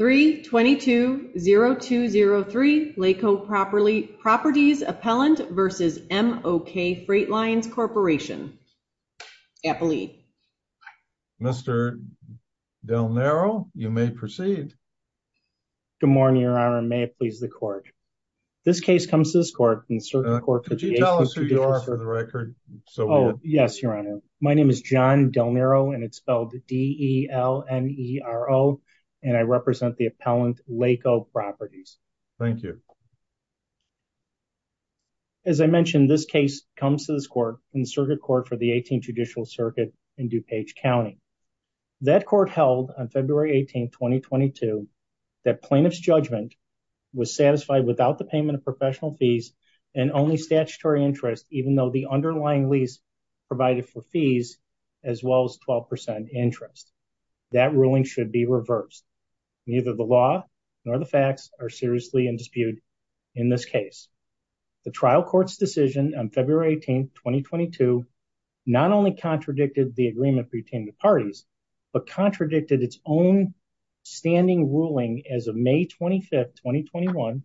3-22-0203 LAKKO Properties Appellant v. M-OK Freight Lines Corp. Mr. Del Nero, you may proceed. Good morning, Your Honor, and may it please the Court. This case comes to this Court in certain court... Could you tell us who you are for the record? Yes, Your Honor. My name is John Del Nero and it's spelled D-E-L-N-E-R-O and I represent the Appellant LAKKO Properties. Thank you. As I mentioned, this case comes to this Court in circuit court for the 18th Judicial Circuit in DuPage County. That Court held on February 18, 2022, that plaintiff's judgment was satisfied without the payment of professional fees and only statutory interest, even though the underlying lease provided for fees as well as 12% interest. That ruling should be reversed. Neither the law nor the facts are seriously in dispute in this case. The trial court's decision on February 18, 2022, not only contradicted the agreement between the parties, but contradicted its own ruling as of May 25, 2021,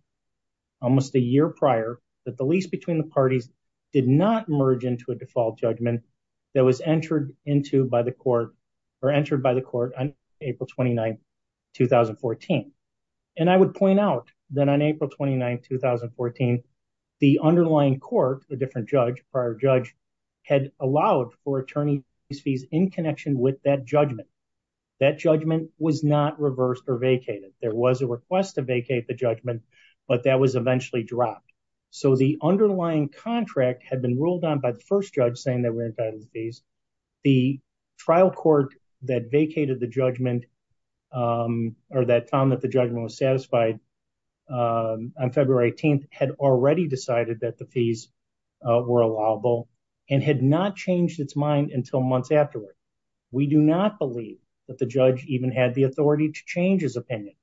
almost a year prior, that the lease between the parties did not merge into a default judgment that was entered by the Court on April 29, 2014. I would point out that on April 29, 2014, the underlying court, the different judge, prior judge, had allowed for attorney's fees in connection with that judgment. That judgment was not reversed or vacated. There was a request to vacate the judgment, but that was eventually dropped. So the underlying contract had been ruled on by the first judge saying that we're entitled to fees. The trial court that vacated the judgment or that found that the judgment was satisfied on February 18 had already decided that the fees were allowable and had not changed its mind until months afterward. We do not believe that the judge even had the authority to change his opinion,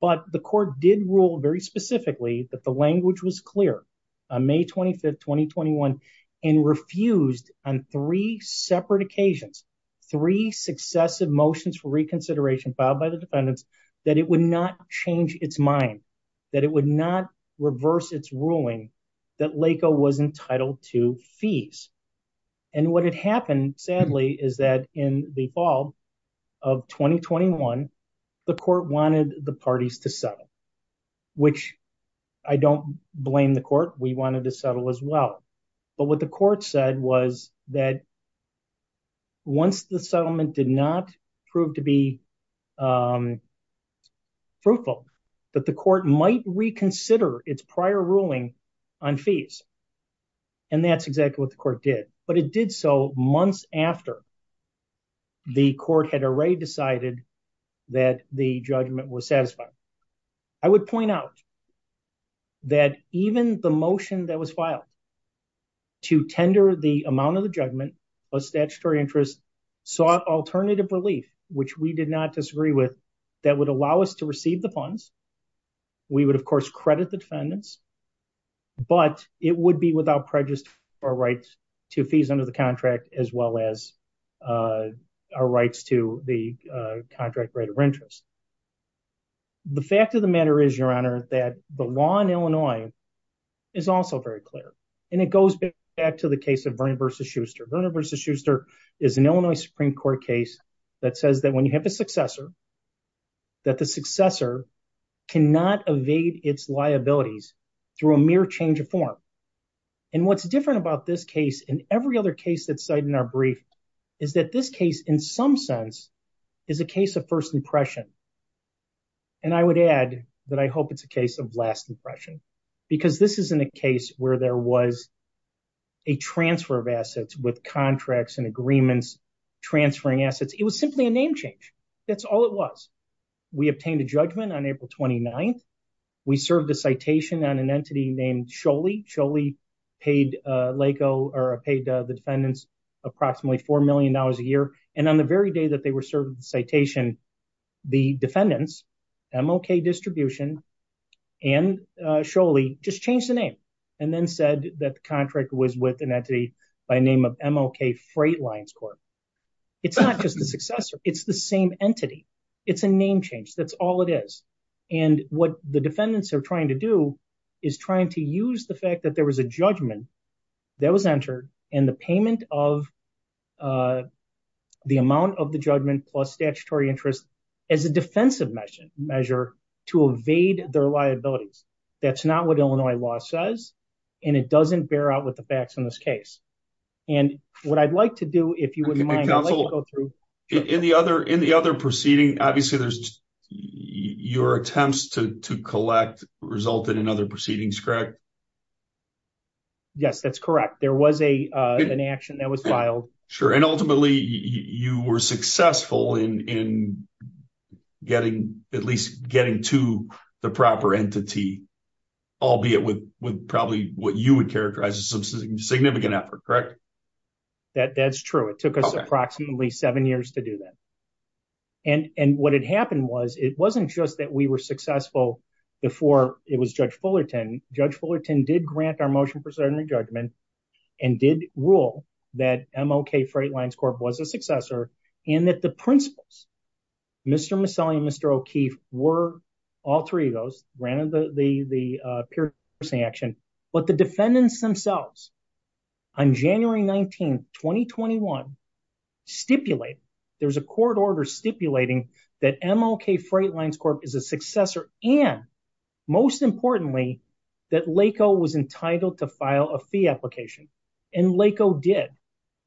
but the court did rule very specifically that the language was clear on May 25, 2021, and refused on three separate occasions, three successive motions for that it would not reverse its ruling that LACO was entitled to fees. And what had happened, sadly, is that in the fall of 2021, the court wanted the parties to settle, which I don't blame the court. We wanted to settle as well. But what the court said was that once the settlement did not prove to be fruitful, that the court might reconsider its prior ruling on fees. And that's exactly what the court did. But it did so months after the court had already decided that the judgment was satisfied. I would point out that even the motion that was filed to tender the amount of the interest sought alternative relief, which we did not disagree with that would allow us to receive the funds. We would of course credit the defendants, but it would be without prejudice our rights to fees under the contract, as well as our rights to the contract rate of interest. The fact of the matter is your honor, that the law in Illinois is also very clear. And it goes back to the case of Vernon v. Schuster. Vernon v. Schuster is an Illinois Supreme Court case that says that when you have a successor, that the successor cannot evade its liabilities through a mere change of form. And what's different about this case and every other case that's cited in our brief is that this case in some sense is a case of first impression. And I would add that I hope it's a case of last impression, because this isn't a case where there was a transfer of assets with contracts and agreements transferring assets. It was simply a name change. That's all it was. We obtained a judgment on April 29th. We served a citation on an entity named Scholey. Scholey paid the defendants approximately $4 million a year. And on the very day that they were serving the citation, the defendants, MLK Distribution and Scholey just changed the name and then said that the contract was with an entity by the name of MLK Freight Lines Corp. It's not just the successor. It's the same entity. It's a name change. That's all it is. And what the defendants are trying to do is trying to use the fact that there was a judgment that was entered and the payment of the amount of the judgment plus their liabilities. That's not what Illinois law says. And it doesn't bear out with the facts in this case. And what I'd like to do, if you wouldn't mind, I'll let you go through. In the other proceeding, obviously there's your attempts to collect resulted in other proceedings, correct? Yes, that's correct. There was an action that was filed. Sure. And ultimately you were successful in at least getting to the proper entity, albeit with probably what you would characterize as some significant effort, correct? That's true. It took us approximately seven years to do that. And what had happened was it wasn't just that we were successful before it was Judge Fullerton. Judge Fullerton did grant our motion judgment and did rule that MLK Freight Lines Corp was a successor in that the principles, Mr. Maselli and Mr. O'Keefe were all three of those granted the piercing action, but the defendants themselves on January 19th, 2021 stipulate there's a court order stipulating that MLK Freight Lines Corp is a successor. And most importantly, that LACO was entitled to file a fee application and LACO did.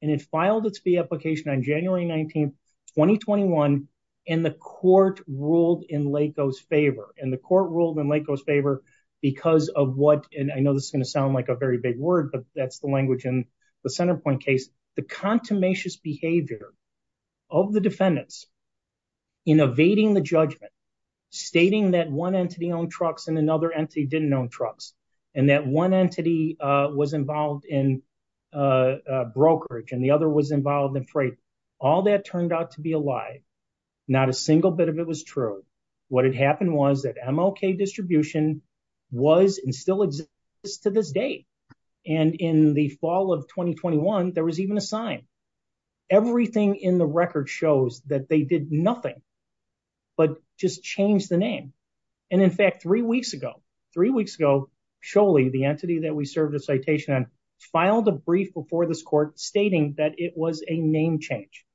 And it filed its fee application on January 19th, 2021. And the court ruled in LACO's favor and the court ruled in LACO's favor because of what, and I know this is going to sound like a very big word, but that's the language in the center point case, the contumacious behavior of the defendants in evading the judgment, stating that one entity owned trucks and another entity didn't own trucks, and that one entity was involved in brokerage and the other was involved in freight. All that turned out to be a lie. Not a single bit of it was true. What had happened was that MLK distribution was and still exists to this day. And in the fall of 2021, there was even a sign. Everything in the record shows that they did nothing, but just changed the name. And in fact, three weeks ago, three weeks ago, Sholey, the entity that we served a citation on, filed a brief before this court stating that it was a name change.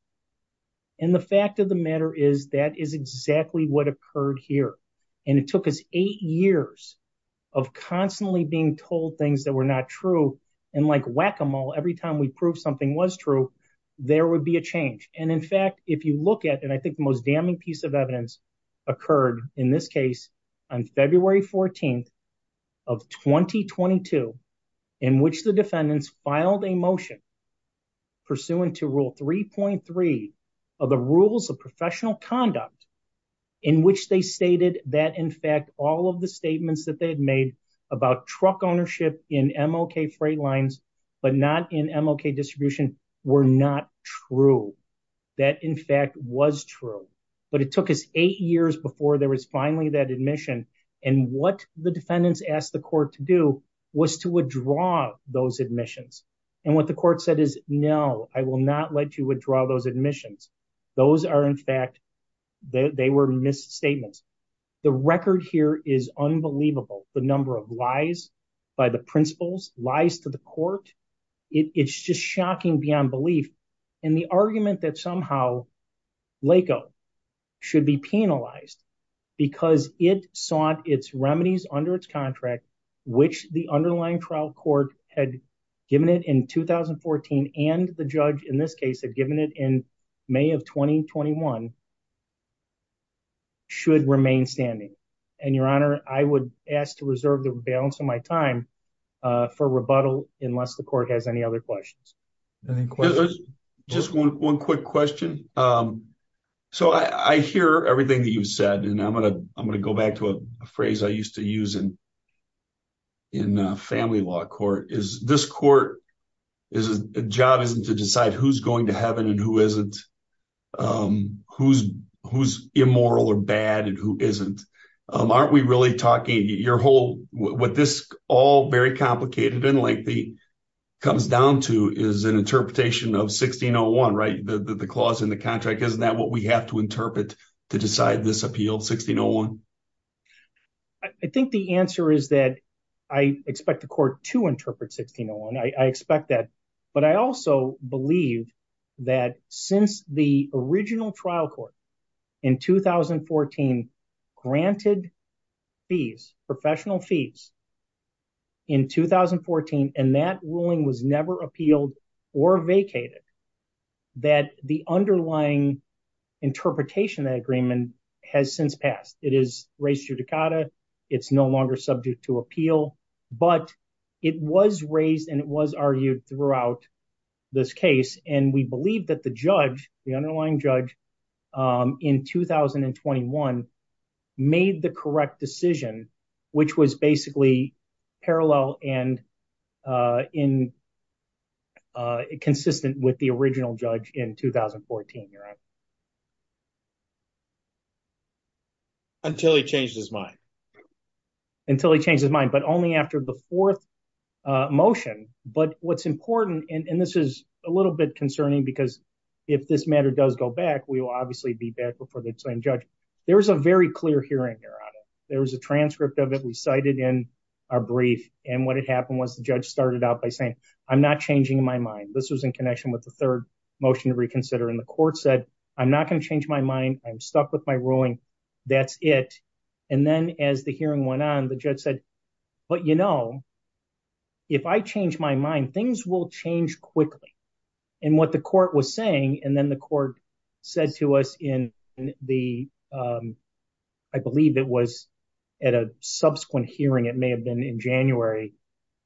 And the fact of the matter is that is exactly what occurred here. And it took us eight years of constantly being told things that were not true. And like whack-a-mole, every time we prove something was true, there would be a change. And in fact, if you look at, and I think the most damning piece of evidence occurred in this case on February 14th of 2022, in which the defendants filed a motion pursuant to rule 3.3 of the rules of professional conduct, in which they stated that in fact, all of the statements that they had made about truck ownership in MLK freight lines, but not in MLK distribution, were not true. That in fact was true, but it took us eight years before there was finally that admission. And what the defendants asked the court to do was to withdraw those admissions. And what the court said is, no, I will not let you withdraw those statements. The record here is unbelievable. The number of lies by the principals, lies to the court, it's just shocking beyond belief. And the argument that somehow LACO should be penalized because it sought its remedies under its contract, which the underlying trial court had given it in 2014, and the judge in this case had given it in May of 2021, should remain standing. And your honor, I would ask to reserve the balance of my time for rebuttal unless the court has any other questions. Just one quick question. So I hear everything that you've said, and I'm gonna go back to a job isn't to decide who's going to heaven and who isn't, who's immoral or bad and who isn't. Aren't we really talking your whole, what this all very complicated and lengthy comes down to is an interpretation of 1601, right? The clause in the contract, isn't that what we have to interpret to decide this appeal, 1601? I think the answer is that I expect the court to interpret 1601. I expect that. But I also believe that since the original trial court in 2014, granted fees, professional fees in 2014, and that ruling was never appealed or vacated, that the underlying interpretation of that agreement has since passed. It is raised to the cotta. It's no longer subject to appeal, but it was raised and it was argued throughout this case. And we believe that the judge, the underlying judge in 2021 made the correct decision, which was basically parallel and consistent with the original judge in 2014. You're on until he changed his mind until he changed his mind, but only after the fourth motion. But what's important, and this is a little bit concerning because if this matter does go back, we will obviously be back before the same judge. There was a very clear hearing here on it. There was a transcript of it. We cited in our brief and what had happened was the judge started out by saying, I'm not changing my mind. This was in connection with the third motion to reconsider and the court said, I'm not going to change my mind. I'm stuck with my ruling. That's it. And then as the hearing went on, the judge said, but you know, if I change my mind, things will change quickly and what the court was saying. And then the court says to us in the I believe it was at a subsequent hearing, it may have been in January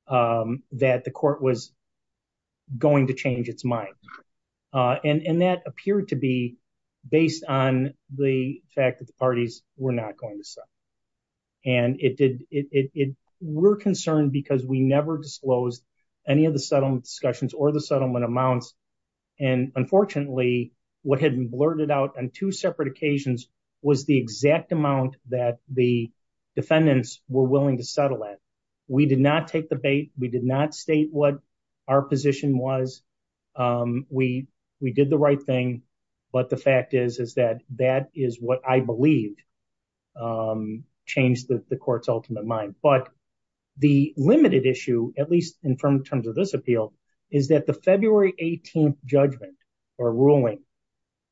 that the court was going to change its mind. And that appeared to be based on the fact that the parties were not going to sell. And it did it. We're concerned because we never disclosed any of the settlement discussions or the settlement amounts. And unfortunately, what had been blurted out on two separate occasions was the exact amount that the defendants were willing to settle it. We did not take the bait. We did not state what our position was. We did the right thing. But the fact is, is that that is what I believed changed the court's ultimate mind. But the limited issue, at least in terms of this appeal, is that the February 18th judgment or ruling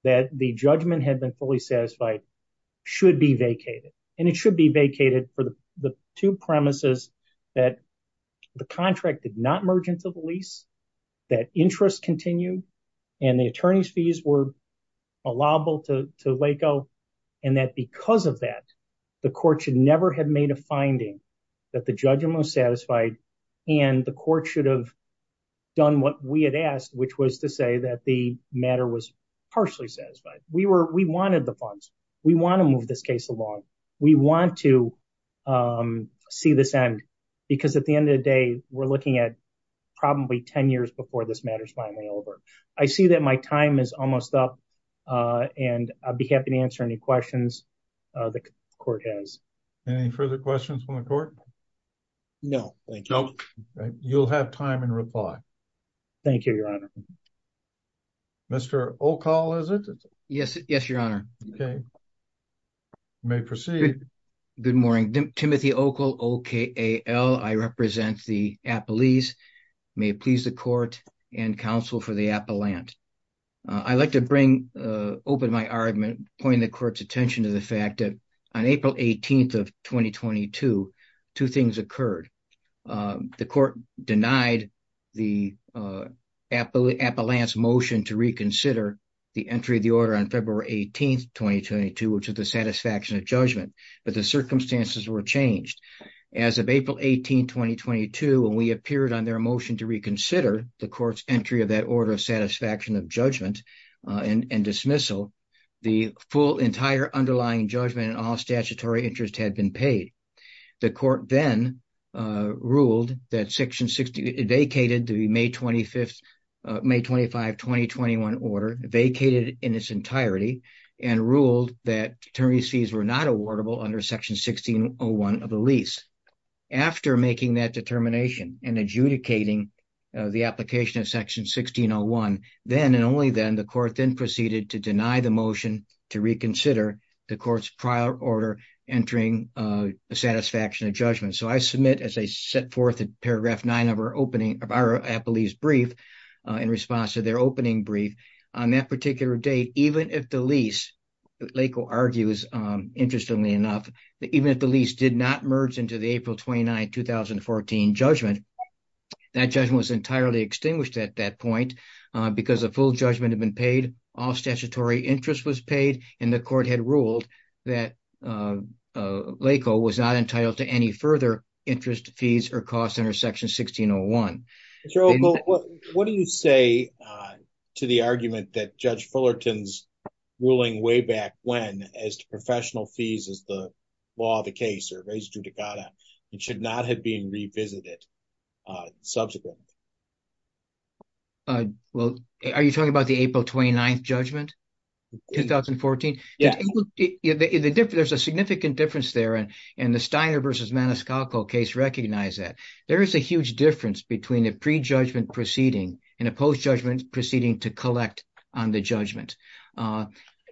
that the judgment had been fully satisfied should be vacated. And it should be vacated for the two premises that the contract did not merge into the lease, that interest continued and the attorney's fees were allowable to to Laco. And that because of that, the court should never have made a finding that the judgment was satisfied and the court should have done what we had asked, which was to say that the matter was partially satisfied. We were we wanted the funds. We want to move this case along. We want to see this end, because at the end of the day, we're looking at probably 10 years before this matter is finally over. I see that my time is almost up, and I'd be happy to answer any questions the court has. Any further questions from the court? No, thank you. You'll have time and reply. Thank you, Your Honor. Mr. O'Call, is it? Yes, Your Honor. Okay. May proceed. Good morning. Timothy O'Call, O-K-A-L. I represent the Appalese. May it please the court and counsel for the Appalant. I'd like to bring open my argument, point the court's attention to the fact that on April 18th of 2022, two things occurred. The court denied the Appalant's motion to reconsider the entry of the order on February 18th, 2022, which is the satisfaction of judgment, but the circumstances were changed. As of April 18th, 2022, when we appeared on their motion to reconsider the court's entry of that order of satisfaction of judgment and dismissal, the full entire underlying judgment and all statutory interest had been paid. The court then ruled that Section 16 vacated the May 25, 2021 order, vacated in its entirety, and ruled that attorney's fees were not awardable under Section 1601 of the lease. After making that determination and adjudicating the application of Section 1601, then and only then, the court then proceeded to deny the motion to reconsider the court's prior order entering satisfaction of judgment. So I submit, as I set forth in paragraph 9 of our Appalese brief, in response to their opening brief, on that particular date, even if the lease, Laco argues interestingly enough, even if the lease did not merge into the April 29, 2014 judgment, that judgment was entirely extinguished at that point because the full judgment had been paid, all statutory interest was paid, and the court had ruled that Laco was not entitled to any further interest fees or costs under Section 1601. What do you say to the argument that Judge Fullerton's ruling way back when as to professional fees as the law of the case or res judicata, it should not have been revisited subsequently? Well, are you talking about the April 29th judgment, 2014? Yeah. There's a significant difference there, and the Steiner versus Maniscalco case recognized that. There is a huge difference between a pre-judgment proceeding and a post-judgment proceeding to collect on the judgment.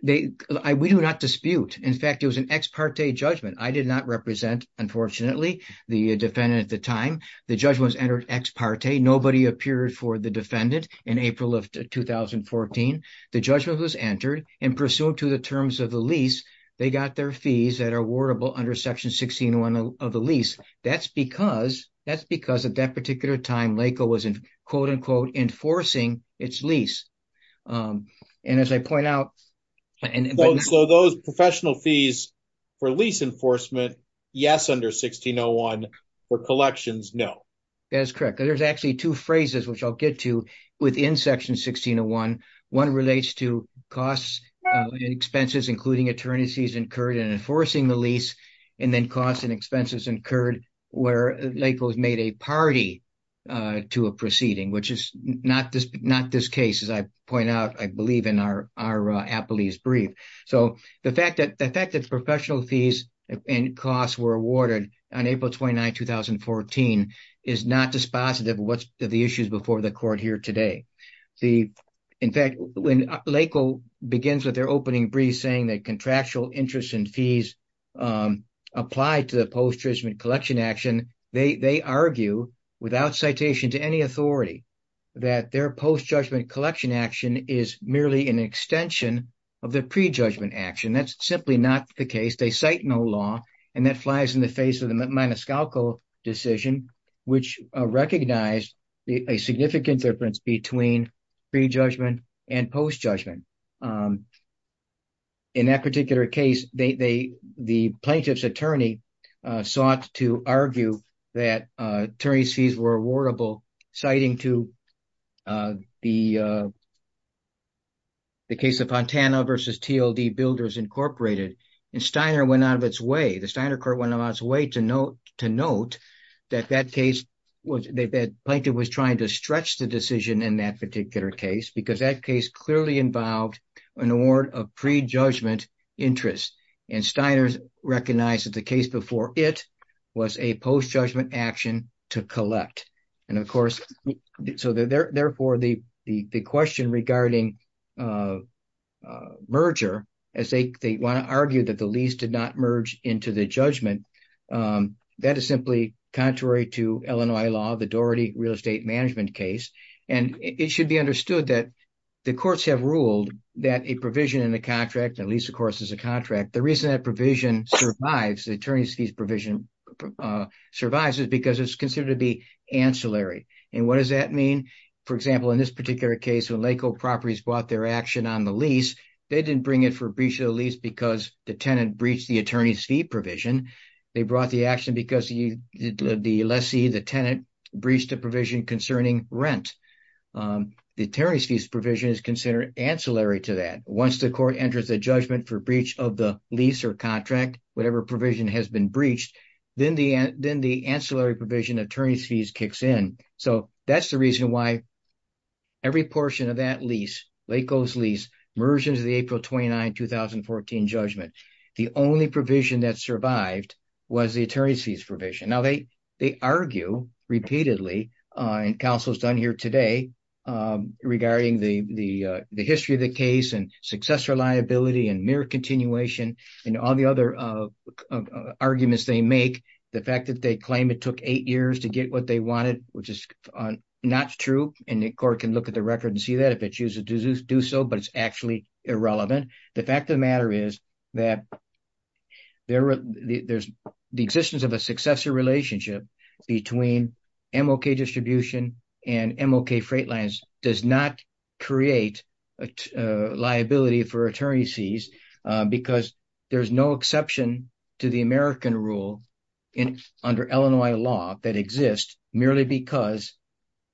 We do not dispute. In fact, it was an ex parte judgment. I did not represent, unfortunately, the defendant at the time. The judgment was entered ex parte, nobody appeared for the defendant in April of 2014. The judgment was entered, and pursuant to the terms of the lease, they got their fees that are awardable under Section 1601 of the lease. That's because at that particular time, Laco was, quote unquote, enforcing its lease. And as I point out... So those professional fees for lease enforcement, yes, under 1601, for collections, no. That is correct. There's actually two phrases, which I'll get to within Section 1601. One relates to costs and expenses, including attorneys' fees incurred in enforcing the lease, and then costs and expenses incurred where Laco's made a party to a proceeding, which is not this case. As I point out, I believe in our appellee's brief. So the fact that professional fees and costs were is not dispositive of the issues before the court here today. In fact, when Laco begins with their opening brief saying that contractual interests and fees apply to the post-judgment collection action, they argue, without citation to any authority, that their post-judgment collection action is merely an extension of the prejudgment action. That's simply not the case. They cite no law, and that flies in the face of the Maniscalco decision, which recognized a significant difference between prejudgment and post-judgment. In that particular case, the plaintiff's attorney sought to argue that attorney's fees were The Steiner Court went out of its way to note that the plaintiff was trying to stretch the decision in that particular case, because that case clearly involved an award of prejudgment interest, and Steiner recognized that the case before it was a post-judgment action to collect. And of course, so therefore, the question regarding merger, as they want to argue that the lease did not merge into the judgment, that is simply contrary to Illinois law, the Doherty real estate management case. And it should be understood that the courts have ruled that a provision in the contract, at least the course is a contract, the reason that provision survives, the attorney's fees provision survives is because it's considered to be ancillary. And what does that mean? For example, in this particular case, when Lakehold Properties bought their action on the lease, they didn't bring it for breach of the lease because the tenant breached the attorney's fee provision. They brought the action because the lessee, the tenant, breached the provision concerning rent. The attorney's fees provision is considered ancillary to that. Once the court enters a judgment for breach of the lease or contract, whatever provision has been breached, then the ancillary provision attorney's fees kicks in. So that's the reason why every portion of that lease, Lakehold's lease, merges the April 29, 2014 judgment. The only provision that survived was the attorney's fees provision. Now they argue repeatedly, and counsel's done here today, regarding the history of the case and successor liability and mirror continuation and all the other arguments they make. The fact that they claim it took eight years to get what they wanted, which is not true. And the court can look at the record and see that if it chooses to do so, but it's actually irrelevant. The fact of the matter is that there's the existence of a successor relationship between MLK Distribution and MLK Freightlines does not create a liability for attorney's fees, because there's no exception to the American rule under Illinois law that exists merely because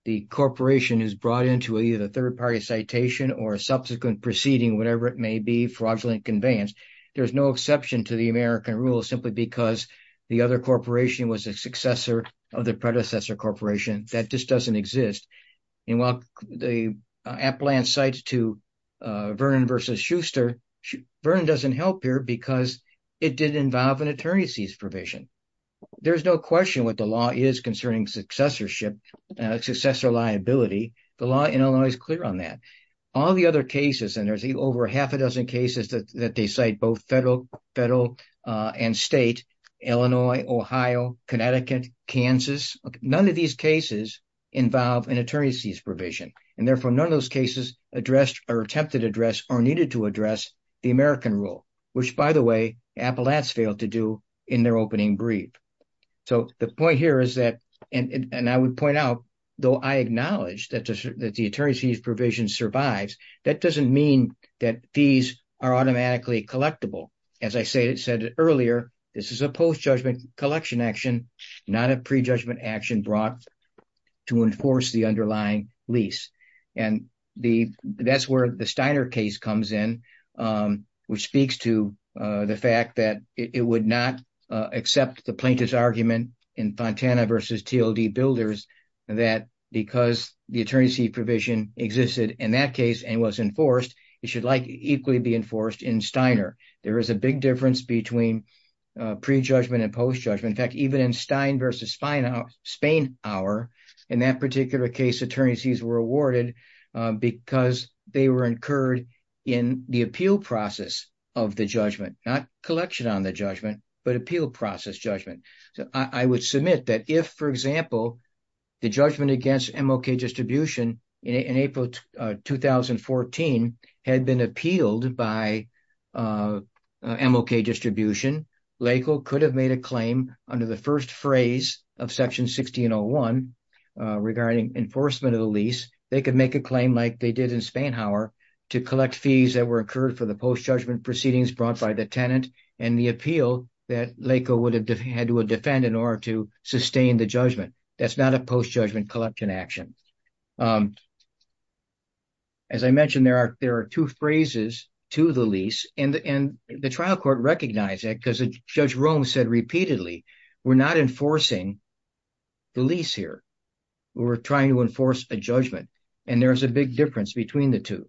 the corporation is brought into either a third-party citation or a subsequent proceeding, whatever it may be, fraudulent conveyance. There's no exception to the American rule simply because the other corporation was a successor of the predecessor corporation. That just doesn't exist. And while the Appalachian cites to Vernon versus Schuster, Vernon doesn't help here because it did involve an attorney's fees provision. There's no question what the law is concerning successorship, successor liability. The law in Illinois is clear on that. All the and state, Illinois, Ohio, Connecticut, Kansas, none of these cases involve an attorney's fees provision. And therefore, none of those cases addressed or attempted to address or needed to address the American rule, which by the way, Appalachians failed to do in their opening brief. So the point here is that, and I would point out, though I acknowledge that the attorney's fees provision survives, that doesn't mean that these are automatically collectible. As I said earlier, this is a post-judgment collection action, not a prejudgment action brought to enforce the underlying lease. And that's where the Steiner case comes in, which speaks to the fact that it would not accept the plaintiff's argument in Fontana versus TLD builders that because the attorney's fee provision existed in that case and was enforced, it should equally be enforced in Steiner. There is a big difference between prejudgment and post-judgment. In fact, even in Stein versus Spanauer, in that particular case, attorney's fees were awarded because they were incurred in the appeal process of the judgment, not collection on the judgment, but appeal process judgment. So I would submit that if, for example, the judgment against MLK distribution in April 2014 had been appealed by MLK distribution, LACO could have made a claim under the first phrase of section 1601 regarding enforcement of the lease. They could make a claim like they did in Spanauer to collect fees that were incurred for the post-judgment proceedings brought by the tenant and the appeal that LACO would have had to defend in order to enforce the judgment. As I mentioned, there are two phrases to the lease and the trial court recognized it because Judge Rome said repeatedly, we're not enforcing the lease here. We're trying to enforce a judgment and there's a big difference between the two.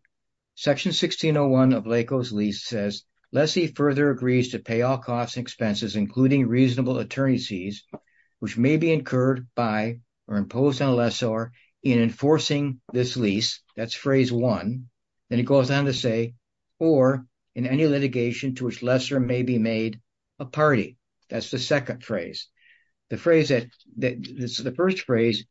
Section 1601 of LACO's lease says lessee further agrees to pay all costs and expenses, including reasonable attorney's fees, which may be incurred by or imposed on a lessor in enforcing this lease. That's phrase one. Then it goes on to say, or in any litigation to which lessor may be made a party. That's the second phrase. The first phrase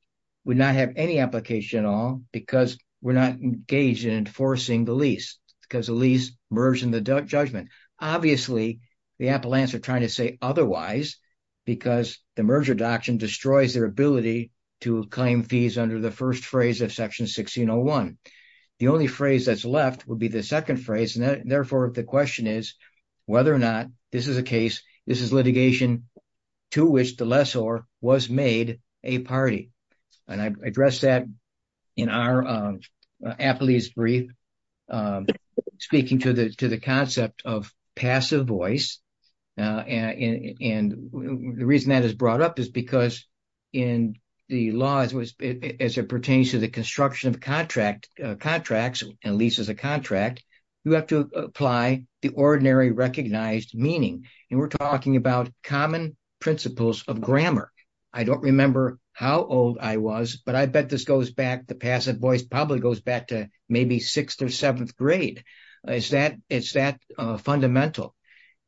would not have any application at all because we're not engaged in enforcing the lease because the lease merged in the judgment. Obviously, the appellants are the merger doctrine destroys their ability to claim fees under the first phrase of section 1601. The only phrase that's left would be the second phrase. Therefore, the question is whether or not this is a case, this is litigation to which the lessor was made a party. I addressed that in our appellee's brief, speaking to the concept of passive voice. The reason that is brought up is because in the laws as it pertains to the construction of contracts and leases a contract, you have to apply the ordinary recognized meaning. We're talking about common principles of grammar. I don't remember how old I was, but I bet this goes back, the passive voice probably goes back to maybe sixth or seventh grade. It's that fundamental.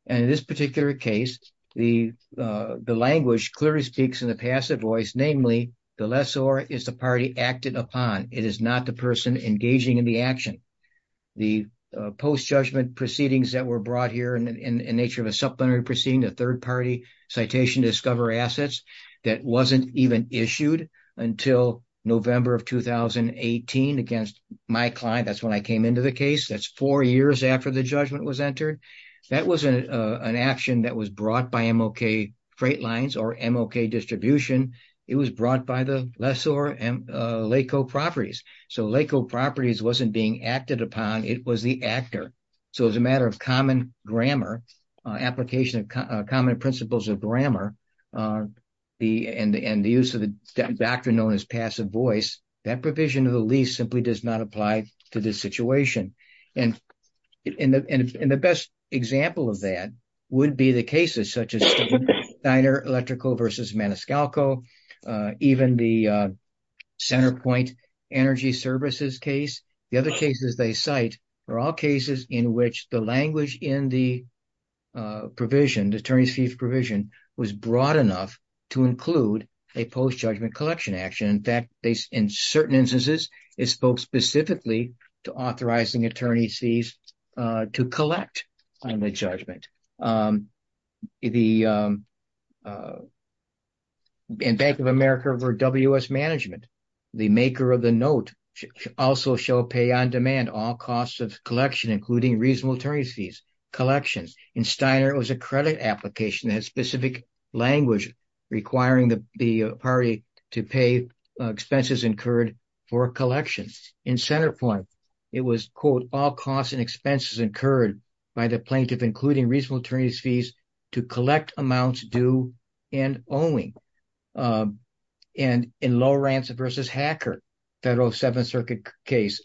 In this particular case, the language clearly speaks in the passive voice, namely, the lessor is the party acted upon. It is not the person engaging in the action. The post-judgment proceedings that were brought here in nature of a supplementary proceeding, a third party citation to discover assets, that wasn't even issued until November of 2018 against my client. That's when I came into the case. That's four years after the judgment was entered. That wasn't an action that was brought by MLK Freight Lines or MLK Distribution. It was brought by the lessor and LACO Properties. LACO Properties wasn't being acted upon, it was the actor. As a matter of common grammar, application of common principles of grammar, and the use of the doctrine known as passive voice, that provision of the lease simply does not apply to this situation. The best example of that would be the cases such as Steiner Electrical versus Maniscalco, even the Centerpoint Energy Services case. The other cases they cite are all cases in which the language in the attorney's fees provision was broad enough to include a post-judgment collection action. In fact, in certain instances, it spoke specifically to authorizing attorney's fees to collect on the judgment. In Bank of America versus WS Management, the maker of the note also shall pay on demand all costs of collection, including reasonable attorney's fees collections. In Steiner, it was a credit application that had specific language requiring the party to pay expenses incurred for collections. In Centerpoint, it was, quote, all costs and expenses incurred by the plaintiff, including reasonable attorney's fees to collect amounts due and owing. And in Lowrance versus Hacker, Federal Seventh Circuit case,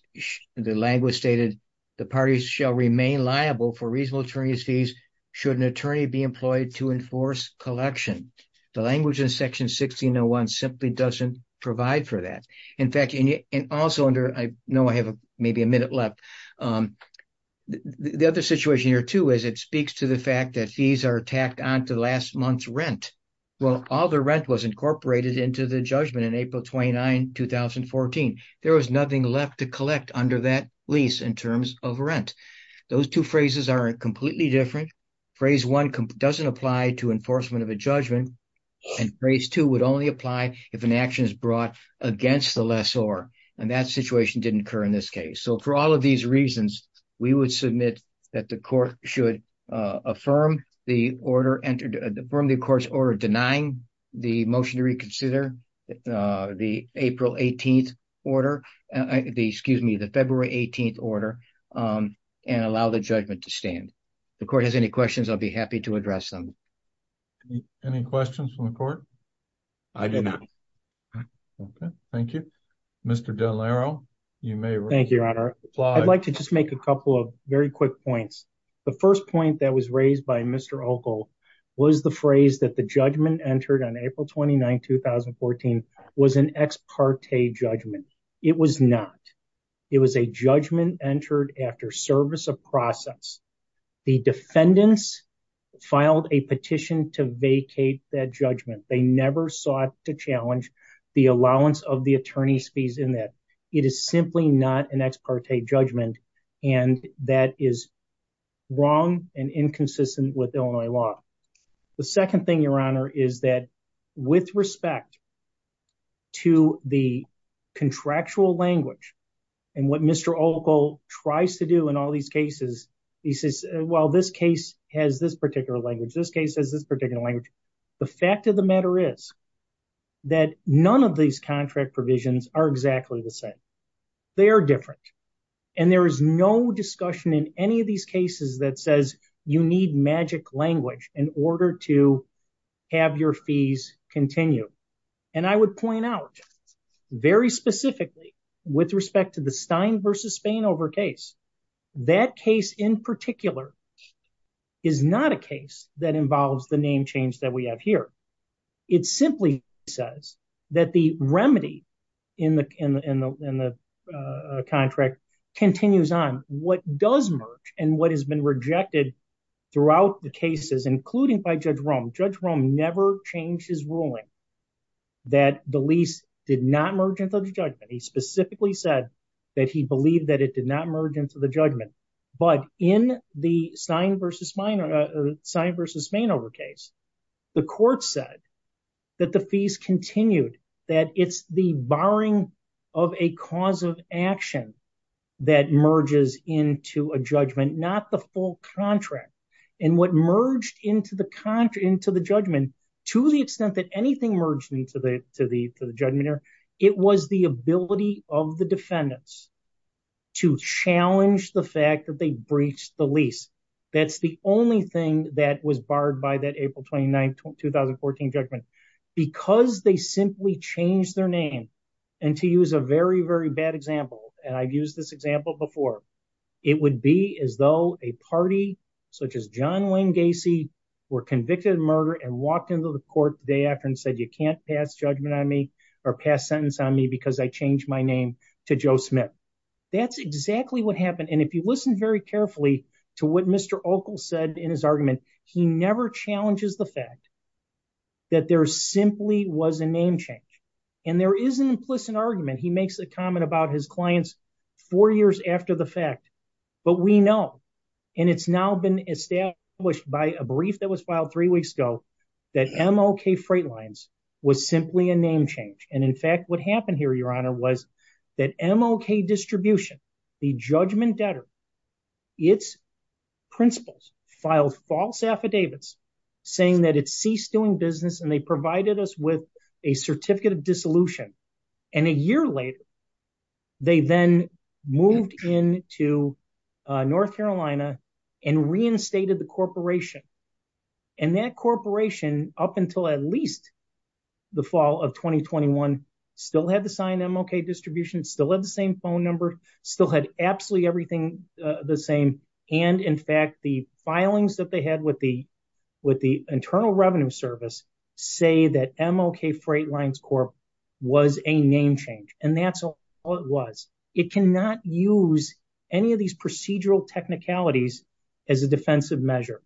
the language stated the parties shall remain liable for reasonable attorney's fees should attorney be employed to enforce collection. The language in Section 1601 simply doesn't provide for that. In fact, and also under, I know I have maybe a minute left, the other situation here too is it speaks to the fact that fees are tacked on to last month's rent. Well, all the rent was incorporated into the judgment in April 29, 2014. There was nothing left to collect under that lease in terms of rent. Those two phrases are completely different phrase one doesn't apply to enforcement of a judgment. And phrase two would only apply if an action is brought against the lessor. And that situation didn't occur in this case. So for all of these reasons, we would submit that the court should affirm the court's order denying the motion to reconsider the April 18th order, excuse me, the February 18th order and allow the judgment to address them. Any questions from the court? I do not. Okay. Thank you, Mr. Delaro. You may. Thank you, Your Honor. I'd like to just make a couple of very quick points. The first point that was raised by Mr. Ockel was the phrase that the judgment entered on April 29, 2014 was an ex parte judgment. It was not. It was a judgment entered after service of process. The defendants filed a petition to vacate that judgment. They never sought to challenge the allowance of the attorney's fees in that it is simply not an ex parte judgment. And that is wrong and inconsistent with Illinois law. The second thing, Your Honor, is that with respect to the contractual language and what Mr. Ockel tries to do in all these cases, he says, well, this case has this particular language. This case has this particular language. The fact of the matter is that none of these contract provisions are exactly the same. They are different. And there is no discussion in any of these cases that says you need magic language in order to have your fees continue. And I would point out very specifically with respect to the Stein v. Spainover case. That case in particular is not a case that involves the name change that we have here. It simply says that the remedy in the contract continues on what does merge and what has been rejected throughout the cases, including by Judge Rome. Judge Rome never changed his ruling that the lease did not merge into the judgment. He specifically said that he believed that it did not merge into the judgment. But in the Stein v. Spainover case, the court said that the fees continued, that it's the borrowing of a cause of action that merges into a judgment, not the full contract. And what merged into the judgment, to the extent that anything merged into the judgment, it was the ability of the defendants to challenge the that they breached the lease. That's the only thing that was barred by that April 29, 2014 judgment. Because they simply changed their name, and to use a very, very bad example, and I've used this example before, it would be as though a party such as John Wayne Gacy were convicted of murder and walked into the court the day after and said, you can't pass judgment on me or pass sentence on me because I changed my name to Joe Smith. That's exactly what happened. And if you listen very carefully to what Mr. Ockel said in his argument, he never challenges the fact that there simply was a name change. And there is an implicit argument, he makes a comment about his clients four years after the fact. But we know, and it's now been established by a brief that was filed three weeks ago, that MLK Freight Lines was simply a name change. And in fact, what happened here, Your Honor, was that MLK Distribution, the judgment debtor, its principals filed false affidavits saying that it ceased doing business and they provided us with a certificate of dissolution. And a year later, they then moved in to North Carolina and reinstated the corporation. And that corporation, up until at least the fall of 2021, still had the signed MLK Distribution, still had the same phone number, still had absolutely everything the same. And in fact, the filings that they had with the Internal Revenue Service say that MLK Freight Lines Corp was a name change. And that's all it was. It cannot use any of these procedural technicalities as a defensive measure.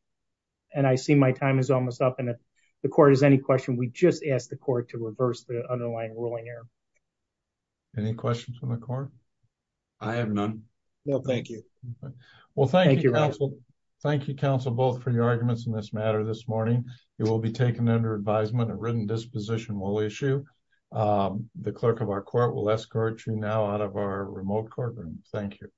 And I see my time is almost up. And if the court has any question, we just ask the court to reverse the underlying ruling here. Any questions from the court? I have none. No, thank you. Well, thank you, counsel. Thank you, counsel, both for your arguments in this matter. This morning, you will be taken under advisement. A written disposition will issue. The clerk of our court will escort you now out of our remote courtroom. Thank you.